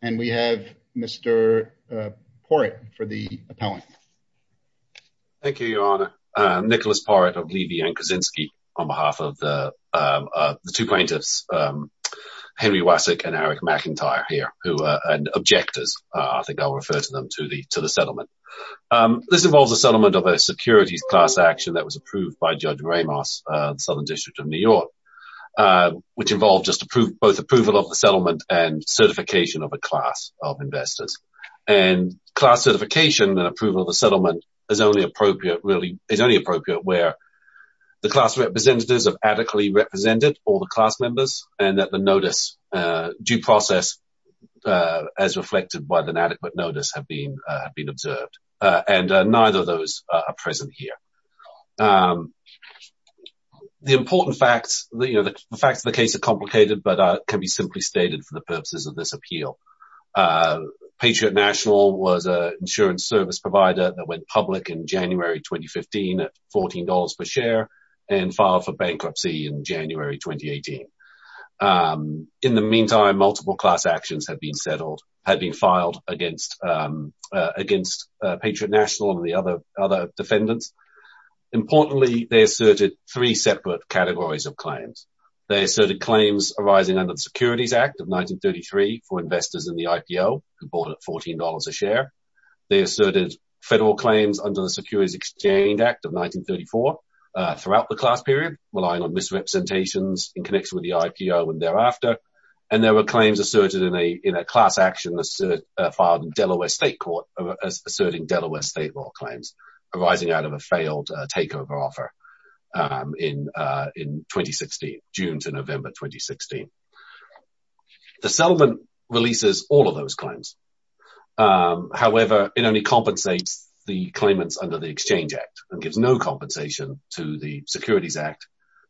And we have Mr. For it for the appellant. Thank you, Your Honor. Nicholas part of Levy and Kaczynski. On behalf of the. The two plaintiffs. Henry Wasek and Eric McIntyre here, who are objectors. I think I'll refer to them to the, to the settlement. This involves a settlement of a securities class action that was approved by Judge Ramos, Southern District of New York. Which involved just approved both approval of the settlement and certification of a class of investors and class certification and approval of the settlement is only appropriate. Really, it's only appropriate where the class representatives of adequately represented all the class members and that the notice due process. As reflected by the inadequate notice have been have been observed and neither of those are present here. The important facts that you know the facts of the case are complicated, but can be simply stated for the purposes of this appeal. Patriot National was a insurance service provider that went public in January 2015 at $14 per share and filed for bankruptcy in January 2018. In the meantime, multiple class actions have been settled had been filed against against Patriot National and the other other defendants. Importantly, they asserted three separate categories of claims. They asserted claims arising under the Securities Act of 1933 for investors in the IPO who bought at $14 a share. They asserted federal claims under the Securities Exchange Act of 1934 throughout the class period, relying on misrepresentations in connection with the IPO and thereafter. And there were claims asserted in a class action filed in Delaware State Court, asserting Delaware state law claims arising out of a failed takeover offer in 2016, June to November 2016. The settlement releases all of those claims. However, it only compensates the claimants under the Exchange Act and gives no compensation to the Securities Act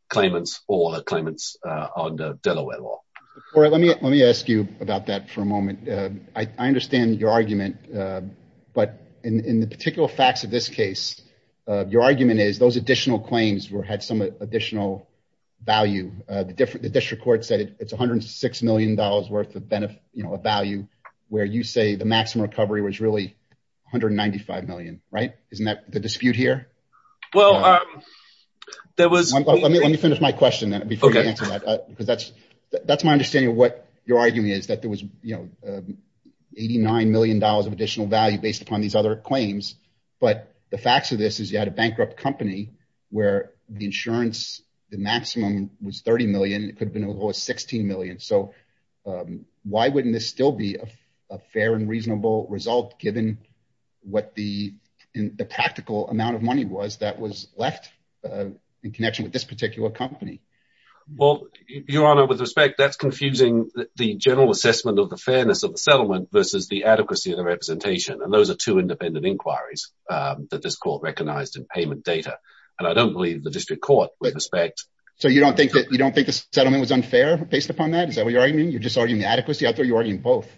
claimants or the claimants under Delaware law. Let me let me ask you about that for a moment. I understand your argument, but in the particular facts of this case, your argument is those additional claims were had some additional value. The district court said it's one hundred six million dollars worth of benefit, a value where you say the maximum recovery was really one hundred ninety five million. Right. Isn't that the dispute here? Well, there was. Let me let me finish my question. OK, because that's that's my understanding of what you're arguing is that there was, you know, eighty nine million dollars of additional value based upon these other claims. But the facts of this is you had a bankrupt company where the insurance, the maximum was 30 million. It could have been over 16 million. So why wouldn't this still be a fair and reasonable result, given what the practical amount of money was that was left in connection with this particular company? Well, your honor, with respect, that's confusing the general assessment of the fairness of the settlement versus the adequacy of the representation. And those are two independent inquiries that this court recognized in payment data. And I don't believe the district court with respect. So you don't think that you don't think the settlement was unfair based upon that? Is that what you're arguing? You're just arguing the adequacy out there. You're arguing both.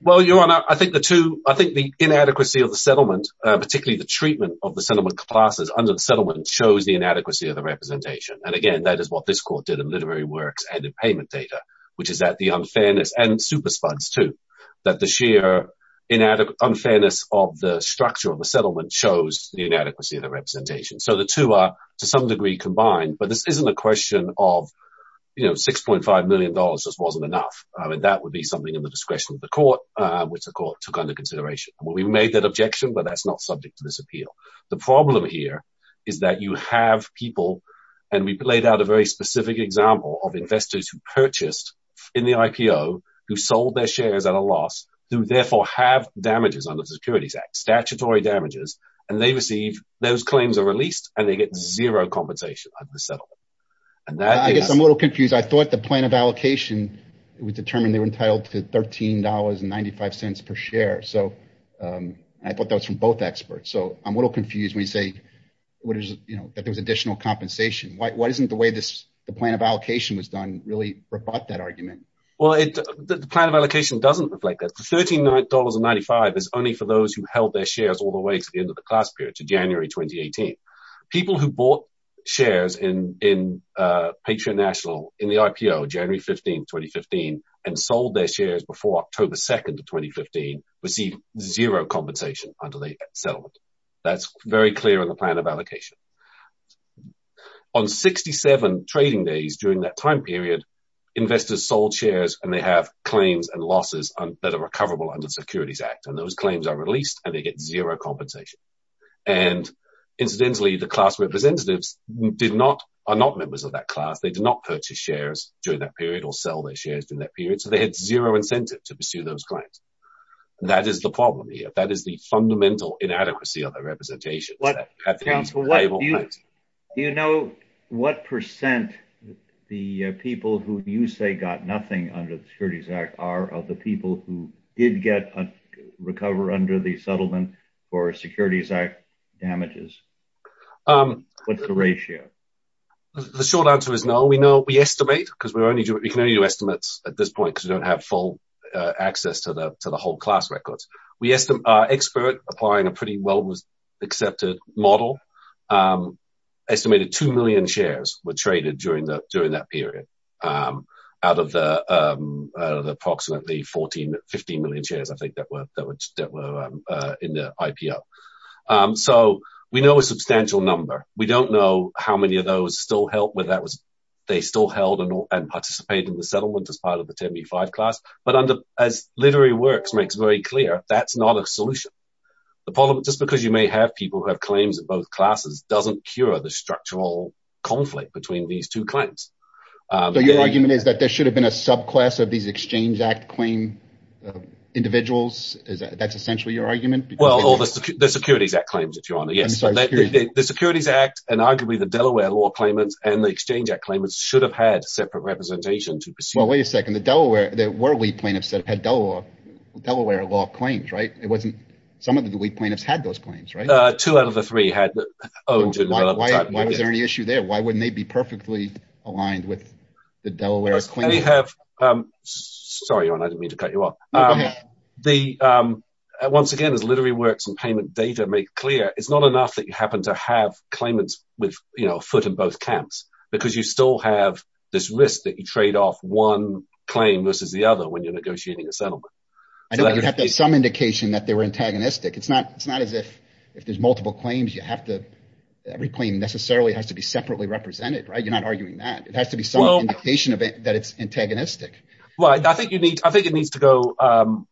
Well, your honor, I think the two I think the inadequacy of the settlement, particularly the treatment of the settlement classes under the settlement shows the inadequacy of the representation. And again, that is what this court did in literary works and in payment data, which is that the unfairness and super spuds to that the sheer inadequate unfairness of the structure of the settlement shows the inadequacy of the representation. So the two are to some degree combined. But this isn't a question of, you know, six point five million dollars just wasn't enough. I mean, that would be something in the discretion of the court, which the court took under consideration. We made that objection, but that's not subject to this appeal. The problem here is that you have people and we played out a very specific example of investors who purchased in the IPO, who sold their shares at a loss, who therefore have damages under the Securities Act, statutory damages, and they receive those claims are released and they get zero compensation. And I guess I'm a little confused. I thought the plan of allocation was determined. They were entitled to thirteen dollars and ninety five cents per share. So I put those from both experts. So I'm a little confused when you say, you know, that there was additional compensation. Why isn't the way this the plan of allocation was done really brought that argument? Well, the plan of allocation doesn't reflect that. Thirty nine dollars and ninety five is only for those who held their shares all the way to the end of the class period to January twenty eighteen. People who bought shares in in Patriot National in the IPO January fifteen twenty fifteen and sold their shares before October second of twenty fifteen received zero compensation until they settled. That's very clear in the plan of allocation on sixty seven trading days during that time period. Investors sold shares and they have claims and losses that are recoverable under the Securities Act and those claims are released and they get zero compensation. And incidentally, the class representatives did not are not members of that class. They did not purchase shares during that period or sell their shares in that period. So they had zero incentive to pursue those claims. That is the problem here. That is the fundamental inadequacy of the representation. Do you know what percent the people who you say got nothing under the Securities Act are of the people who did get a recover under the settlement or Securities Act damages? What's the ratio? The short answer is no. We know we estimate because we can only do estimates at this point because we don't have full access to the to the whole class records. We estimate our expert applying a pretty well accepted model. Estimated two million shares were traded during the during that period. Out of the approximately 14, 15 million shares, I think that were that were in the IPO. So we know a substantial number. We don't know how many of those still help with that. They still held and participate in the settlement as part of the 75 class. But as literary works makes very clear, that's not a solution. The problem, just because you may have people who have claims in both classes, doesn't cure the structural conflict between these two claims. So your argument is that there should have been a subclass of these Exchange Act claim individuals. That's essentially your argument. Well, all the Securities Act claims, if you are. Yes. The Securities Act and arguably the Delaware law claimants and the Exchange Act claimants should have had separate representation to pursue. Well, wait a second. The Delaware that were we plaintiffs that had Delaware law claims, right? It wasn't some of the plaintiffs had those claims, right? Two out of the three had. Why was there any issue there? Why wouldn't they be perfectly aligned with the Delaware? Sorry, I didn't mean to cut you off. The once again, as literary works and payment data make clear, it's not enough that you happen to have claimants with a foot in both camps because you still have this risk that you trade off one claim versus the other when you're negotiating a settlement. I don't have some indication that they were antagonistic. It's not it's not as if if there's multiple claims, you have to every claim necessarily has to be separately represented. Right. You're not arguing that it has to be some indication of it, that it's antagonistic. Right. I think you need I think it needs to go.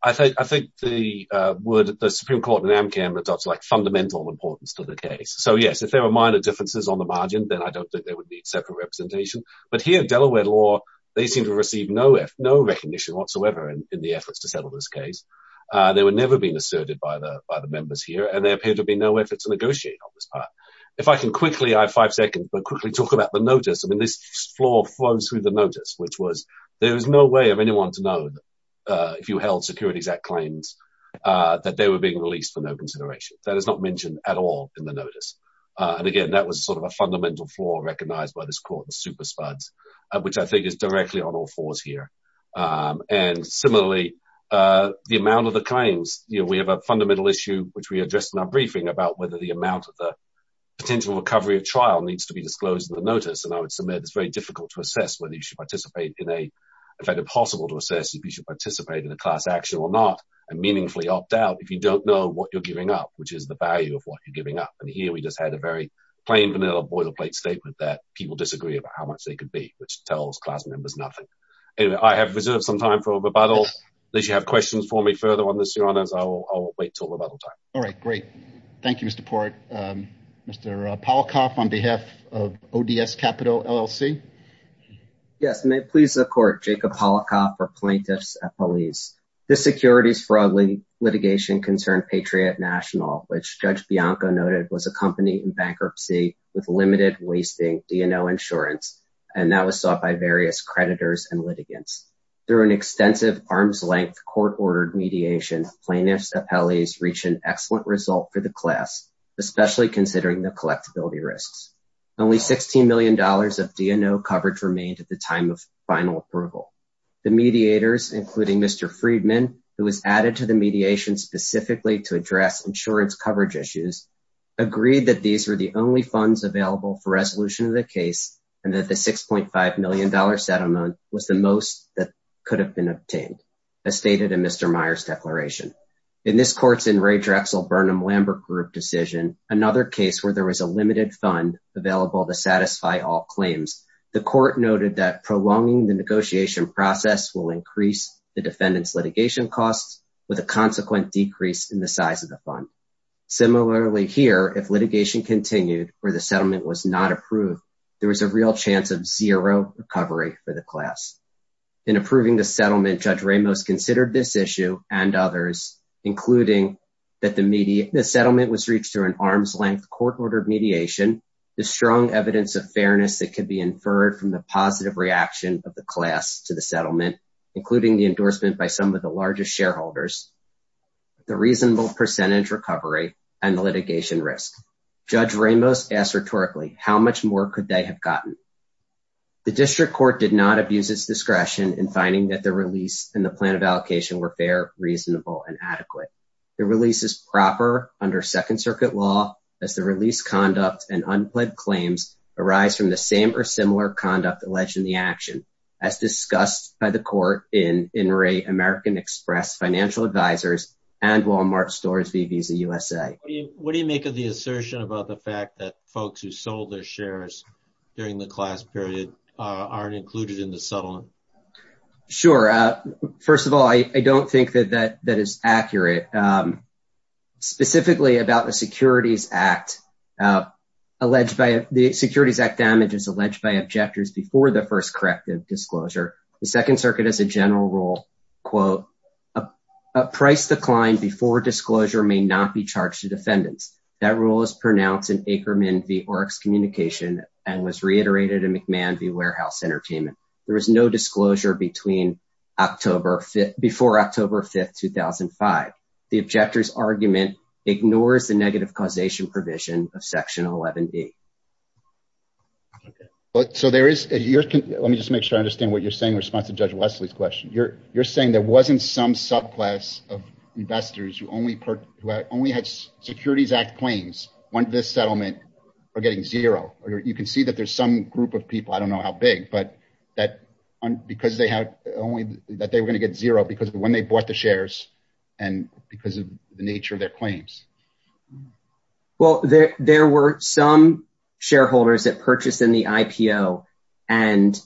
I think I think the word, the Supreme Court in Amcam, it's like fundamental importance to the case. So, yes, if there are minor differences on the margin, then I don't think there would be separate representation. But here, Delaware law, they seem to receive no if no recognition whatsoever in the efforts to settle this case. They were never being asserted by the by the members here. And there appear to be no effort to negotiate on this part. If I can quickly, I have five seconds, but quickly talk about the notice. I mean, this floor flows through the notice, which was there is no way of anyone to know if you held Securities Act claims that they were being released for no consideration. That is not mentioned at all in the notice. And again, that was sort of a fundamental flaw recognized by this court, the super spuds, which I think is directly on all fours here. And similarly, the amount of the claims we have a fundamental issue, which we addressed in our briefing about whether the amount of the potential recovery of trial needs to be disclosed in the notice. And I would submit it's very difficult to assess whether you should participate in a, if at all possible, to assess if you should participate in a class action or not. And meaningfully opt out if you don't know what you're giving up, which is the value of what you're giving up. And here we just had a very plain vanilla boilerplate statement that people disagree about how much they could be, which tells class members nothing. And I have reserved some time for rebuttal unless you have questions for me further on this, your honors. I'll wait till rebuttal time. All right, great. Thank you, Mr. Port. Mr. Polakoff, on behalf of ODS Capital LLC. Yes, may it please the court, Jacob Polakoff for plaintiffs at police. The securities fraud litigation concerned Patriot National, which Judge Bianco noted was a company in bankruptcy with limited wasting DNO insurance. And that was sought by various creditors and litigants. There are an extensive arms length court ordered mediation plaintiffs appellees reach an excellent result for the class, especially considering the collectability risks. Only $16 million of DNO coverage remained at the time of final approval. The mediators, including Mr. Friedman, who was added to the mediation specifically to address insurance coverage issues, agreed that these were the only funds available for resolution of the case. And that the $6.5 million settlement was the most that could have been obtained, as stated in Mr. Myers declaration. In this court's in Ray Drexel Burnham Lambert group decision, another case where there was a limited fund available to satisfy all claims. The court noted that prolonging the negotiation process will increase the defendants litigation costs with a consequent decrease in the size of the fund. Similarly, here, if litigation continued or the settlement was not approved, there was a real chance of zero recovery for the class. In approving the settlement, Judge Ramos considered this issue and others, including that the media, the settlement was reached through an arms length court ordered mediation. The strong evidence of fairness that can be inferred from the positive reaction of the class to the settlement, including the endorsement by some of the largest shareholders. The reasonable percentage recovery and the litigation risk. Judge Ramos asked rhetorically, how much more could they have gotten. The district court did not abuse its discretion in finding that the release in the plan of allocation were fair, reasonable and adequate. The release is proper under Second Circuit law as the release conduct and unpledged claims arise from the same or similar conduct alleged in the action as discussed by the court in in Ray American Express Financial Advisors and Walmart Stores v. Visa USA. What do you make of the assertion about the fact that folks who sold their shares during the class period aren't included in the settlement? Sure. First of all, I don't think that that that is accurate. Specifically about the Securities Act alleged by the Securities Act damages alleged by objectors before the first corrective disclosure. The Second Circuit has a general rule, quote, a price decline before disclosure may not be charged to defendants. That rule is pronounced in Ackerman v. Oryx Communication and was reiterated in McMahon v. Warehouse Entertainment. There is no disclosure between October before October 5th, 2005. The objector's argument ignores the negative causation provision of Section 11B. So there is a year. Let me just make sure I understand what you're saying in response to Judge Wesley's question. You're you're saying there wasn't some subclass of investors who only who only had Securities Act claims when this settlement are getting zero. You can see that there's some group of people. I don't know how big, but that because they had only that they were going to get zero because when they bought the shares and because of the nature of their claims. Well, there were some shareholders that purchased in the IPO and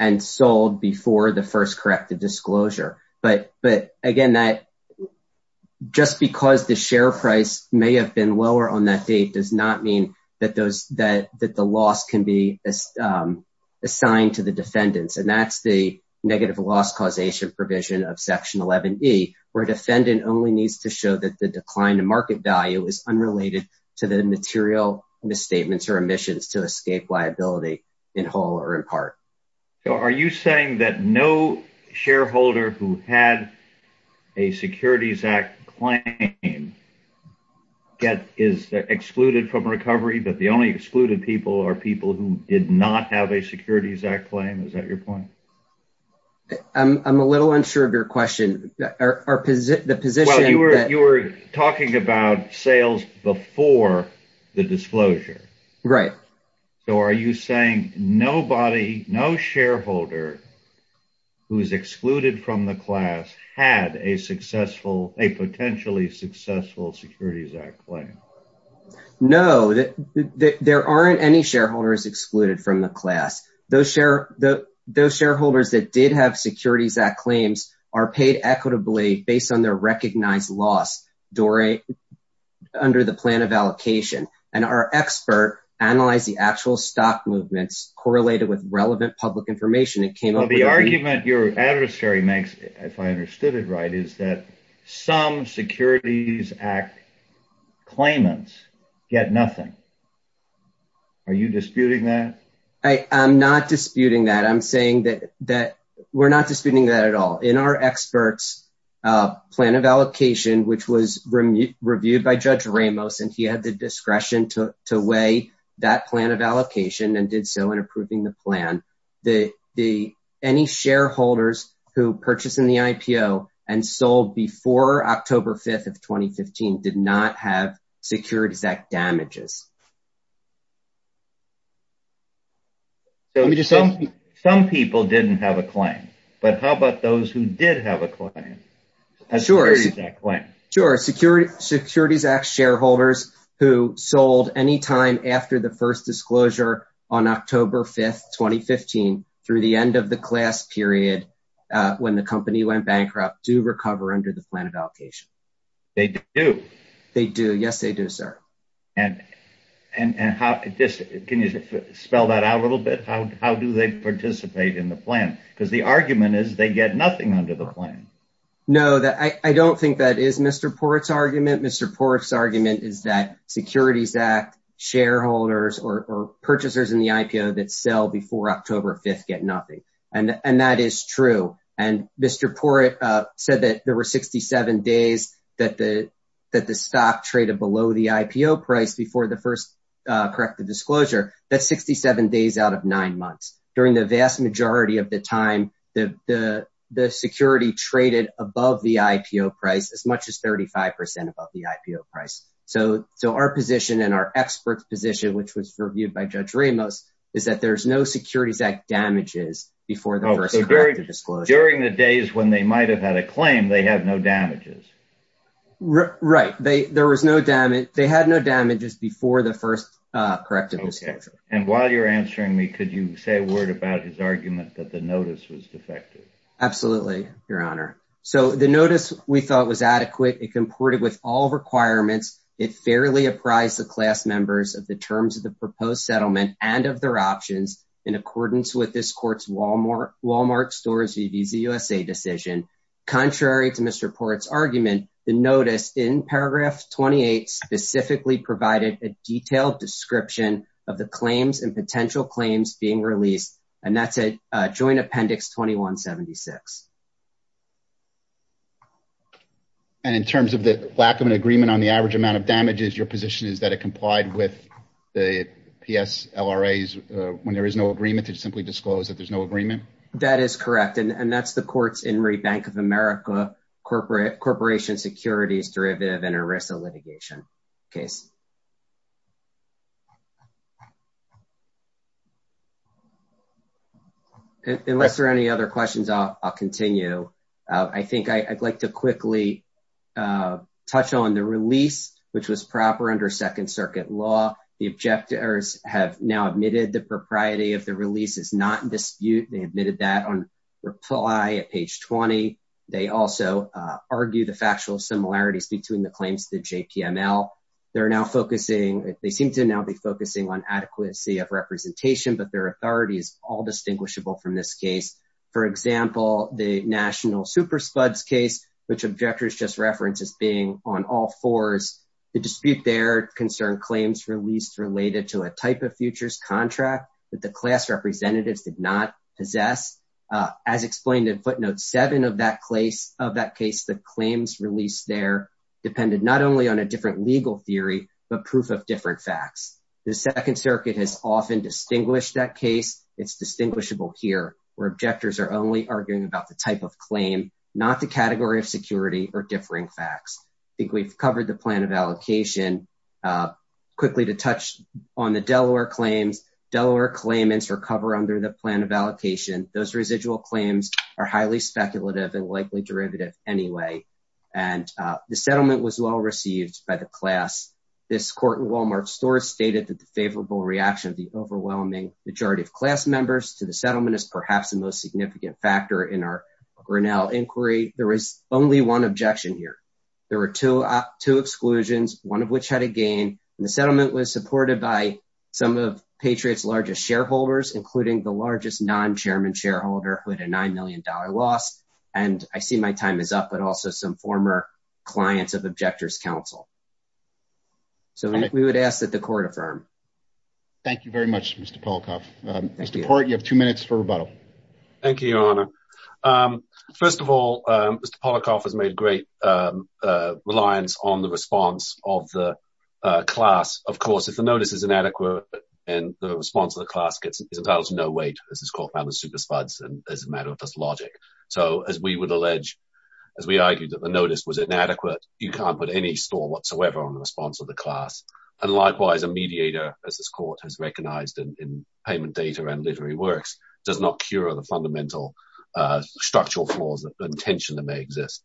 and sold before the first corrective disclosure. But but again, that just because the share price may have been lower on that date does not mean that those that that the loss can be assigned to the defendants. And that's the negative loss causation provision of Section 11B where a defendant only needs to show that the decline in market value is unrelated to the material misstatements or emissions to escape liability in whole or in part. Are you saying that no shareholder who had a Securities Act claim get is excluded from recovery, but the only excluded people are people who did not have a Securities Act claim? Is that your point? I'm a little unsure of your question. The position that you were talking about sales before the disclosure. Right. So are you saying nobody, no shareholder who is excluded from the class had a successful a potentially successful Securities Act claim? No, there aren't any shareholders excluded from the class. Those share those shareholders that did have Securities Act claims are paid equitably based on their recognized loss during under the plan of allocation. And our expert analyze the actual stock movements correlated with relevant public information. The argument your adversary makes, if I understood it right, is that some Securities Act claimants get nothing. Are you disputing that? I am not disputing that. I'm saying that that we're not disputing that at all in our experts plan of allocation, which was reviewed by Judge Ramos. And he had the discretion to weigh that plan of allocation and did so in approving the plan. The the any shareholders who purchased in the IPO and sold before October 5th of 2015 did not have Securities Act damages. Let me just say some people didn't have a claim, but how about those who did have a claim? Sure. Sure. Securities Act shareholders who sold any time after the first disclosure on October 5th, 2015 through the end of the class period when the company went bankrupt do recover under the plan of allocation. They do. They do. Yes, they do, sir. And and how can you spell that out a little bit? How do they participate in the plan? Because the argument is they get nothing under the plan. No, I don't think that is Mr. Porat's argument. Mr. Porat's argument is that Securities Act shareholders or purchasers in the IPO that sell before October 5th get nothing. And that is true. And Mr. Porat said that there were 67 days that the that the stock traded below the IPO price before the first corrective disclosure. That's 67 days out of nine months. During the vast majority of the time, the security traded above the IPO price as much as 35 percent above the IPO price. So so our position and our expert position, which was reviewed by Judge Ramos, is that there's no Securities Act damages before the first disclosure during the days when they might have had a claim. They have no damages. Right. There was no damage. They had no damages before the first corrective disclosure. And while you're answering me, could you say a word about his argument that the notice was defective? Absolutely. Your Honor. So the notice we thought was adequate. It comported with all requirements. It fairly apprised the class members of the terms of the proposed settlement and of their options in accordance with this court's Wal-Mart Wal-Mart Stores v. Visa USA decision. Contrary to Mr. Porat's argument, the notice in paragraph 28 specifically provided a detailed description of the claims and potential claims being released. And that's a joint appendix 2176. And in terms of the lack of an agreement on the average amount of damages, your position is that it complied with the P.S. L.R.A. when there is no agreement to simply disclose that there's no agreement. That is correct. And that's the courts in Bank of America corporate corporation securities derivative and Arisa litigation case. Unless there are any other questions, I'll continue. I think I'd like to quickly touch on the release, which was proper under Second Circuit law. The objectors have now admitted the propriety of the release is not in dispute. They admitted that on reply at page 20. They also argue the factual similarities between the claims to the J.P.M.L. They're now focusing. They seem to now be focusing on adequacy of representation, but their authority is all distinguishable from this case. For example, the national super spuds case, which objectors just reference as being on all fours. The dispute there concerned claims released related to a type of futures contract that the class representatives did not possess. As explained in footnote seven of that case of that case, the claims released there depended not only on a different legal theory, but proof of different facts. The Second Circuit has often distinguished that case. It's distinguishable here where objectors are only arguing about the type of claim, not the category of security or differing facts. I think we've covered the plan of allocation quickly to touch on the Delaware claims. Delaware claimants recover under the plan of allocation. Those residual claims are highly speculative and likely derivative anyway. And the settlement was well received by the class. This court in Wal-Mart stores stated that the favorable reaction of the overwhelming majority of class members to the settlement is perhaps the most significant factor in our Grinnell inquiry. There is only one objection here. There were two exclusions, one of which had a gain. The settlement was supported by some of Patriot's largest shareholders, including the largest non-chairman shareholder with a $9 million loss. And I see my time is up, but also some former clients of objectors counsel. So we would ask that the court affirm. Thank you very much, Mr. Polakoff. Mr. Port, you have two minutes for rebuttal. Thank you, Your Honor. First of all, Mr. Polakoff has made great reliance on the response of the class. Of course, if the notice is inadequate and the response of the class gets is about no weight. This is called the super spuds. And as a matter of logic, so as we would allege, as we argued that the notice was inadequate, you can't put any store whatsoever on the response of the class. And likewise, a mediator, as this court has recognized in payment data and literary works, does not cure the fundamental structural flaws of intention that may exist.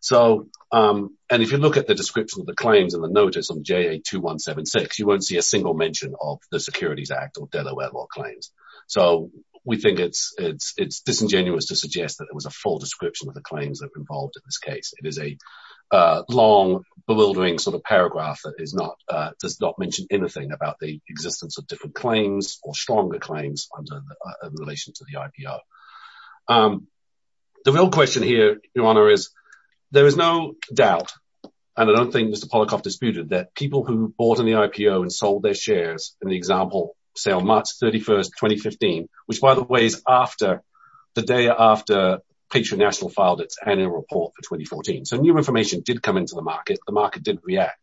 So and if you look at the description of the claims and the notice on J.A. 2176, you won't see a single mention of the Securities Act or Delaware law claims. So we think it's it's it's disingenuous to suggest that it was a full description of the claims that were involved in this case. It is a long, bewildering sort of paragraph that is not does not mention anything about the existence of different claims or stronger claims in relation to the IPO. The real question here, Your Honor, is there is no doubt. And I don't think Mr. Polakoff disputed that people who bought in the IPO and sold their shares in the example sale March 31st, 2015, which, by the way, is after the day after Patriot National filed its annual report for 2014. So new information did come into the market. The market did react.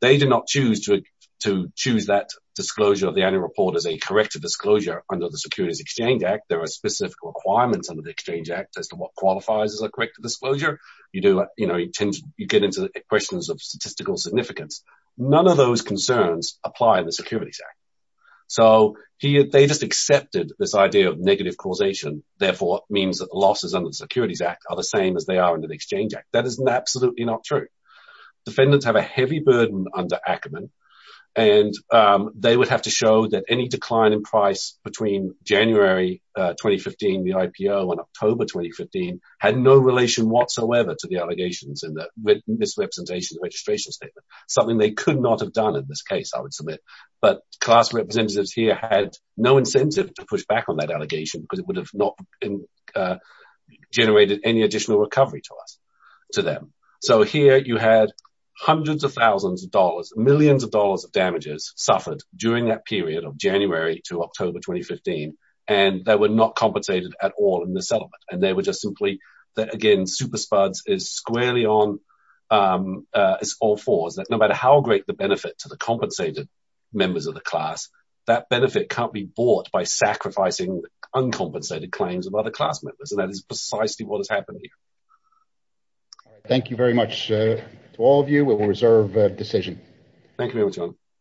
They did not choose to to choose that disclosure of the annual report as a corrective disclosure under the Securities Exchange Act. There are specific requirements under the Exchange Act as to what qualifies as a corrective disclosure. You do, you know, you get into questions of statistical significance. None of those concerns apply in the Securities Act. So they just accepted this idea of negative causation. Therefore, it means that losses under the Securities Act are the same as they are under the Exchange Act. That is absolutely not true. Defendants have a heavy burden under Ackerman, and they would have to show that any decline in price between January 2015, the IPO, and October 2015 had no relation whatsoever to the allegations in the misrepresentation registration statement. Something they could not have done in this case, I would submit. But class representatives here had no incentive to push back on that allegation because it would have not generated any additional recovery to us, to them. So here you had hundreds of thousands of dollars, millions of dollars of damages suffered during that period of January to October 2015. And they were not compensated at all in the settlement. And they were just simply that, again, super spuds is squarely on all fours, that no matter how great the benefit to the compensated members of the class, that benefit can't be bought by sacrificing uncompensated claims of other class members. And that is precisely what is happening. Thank you very much to all of you. We will reserve decision. Thank you very much.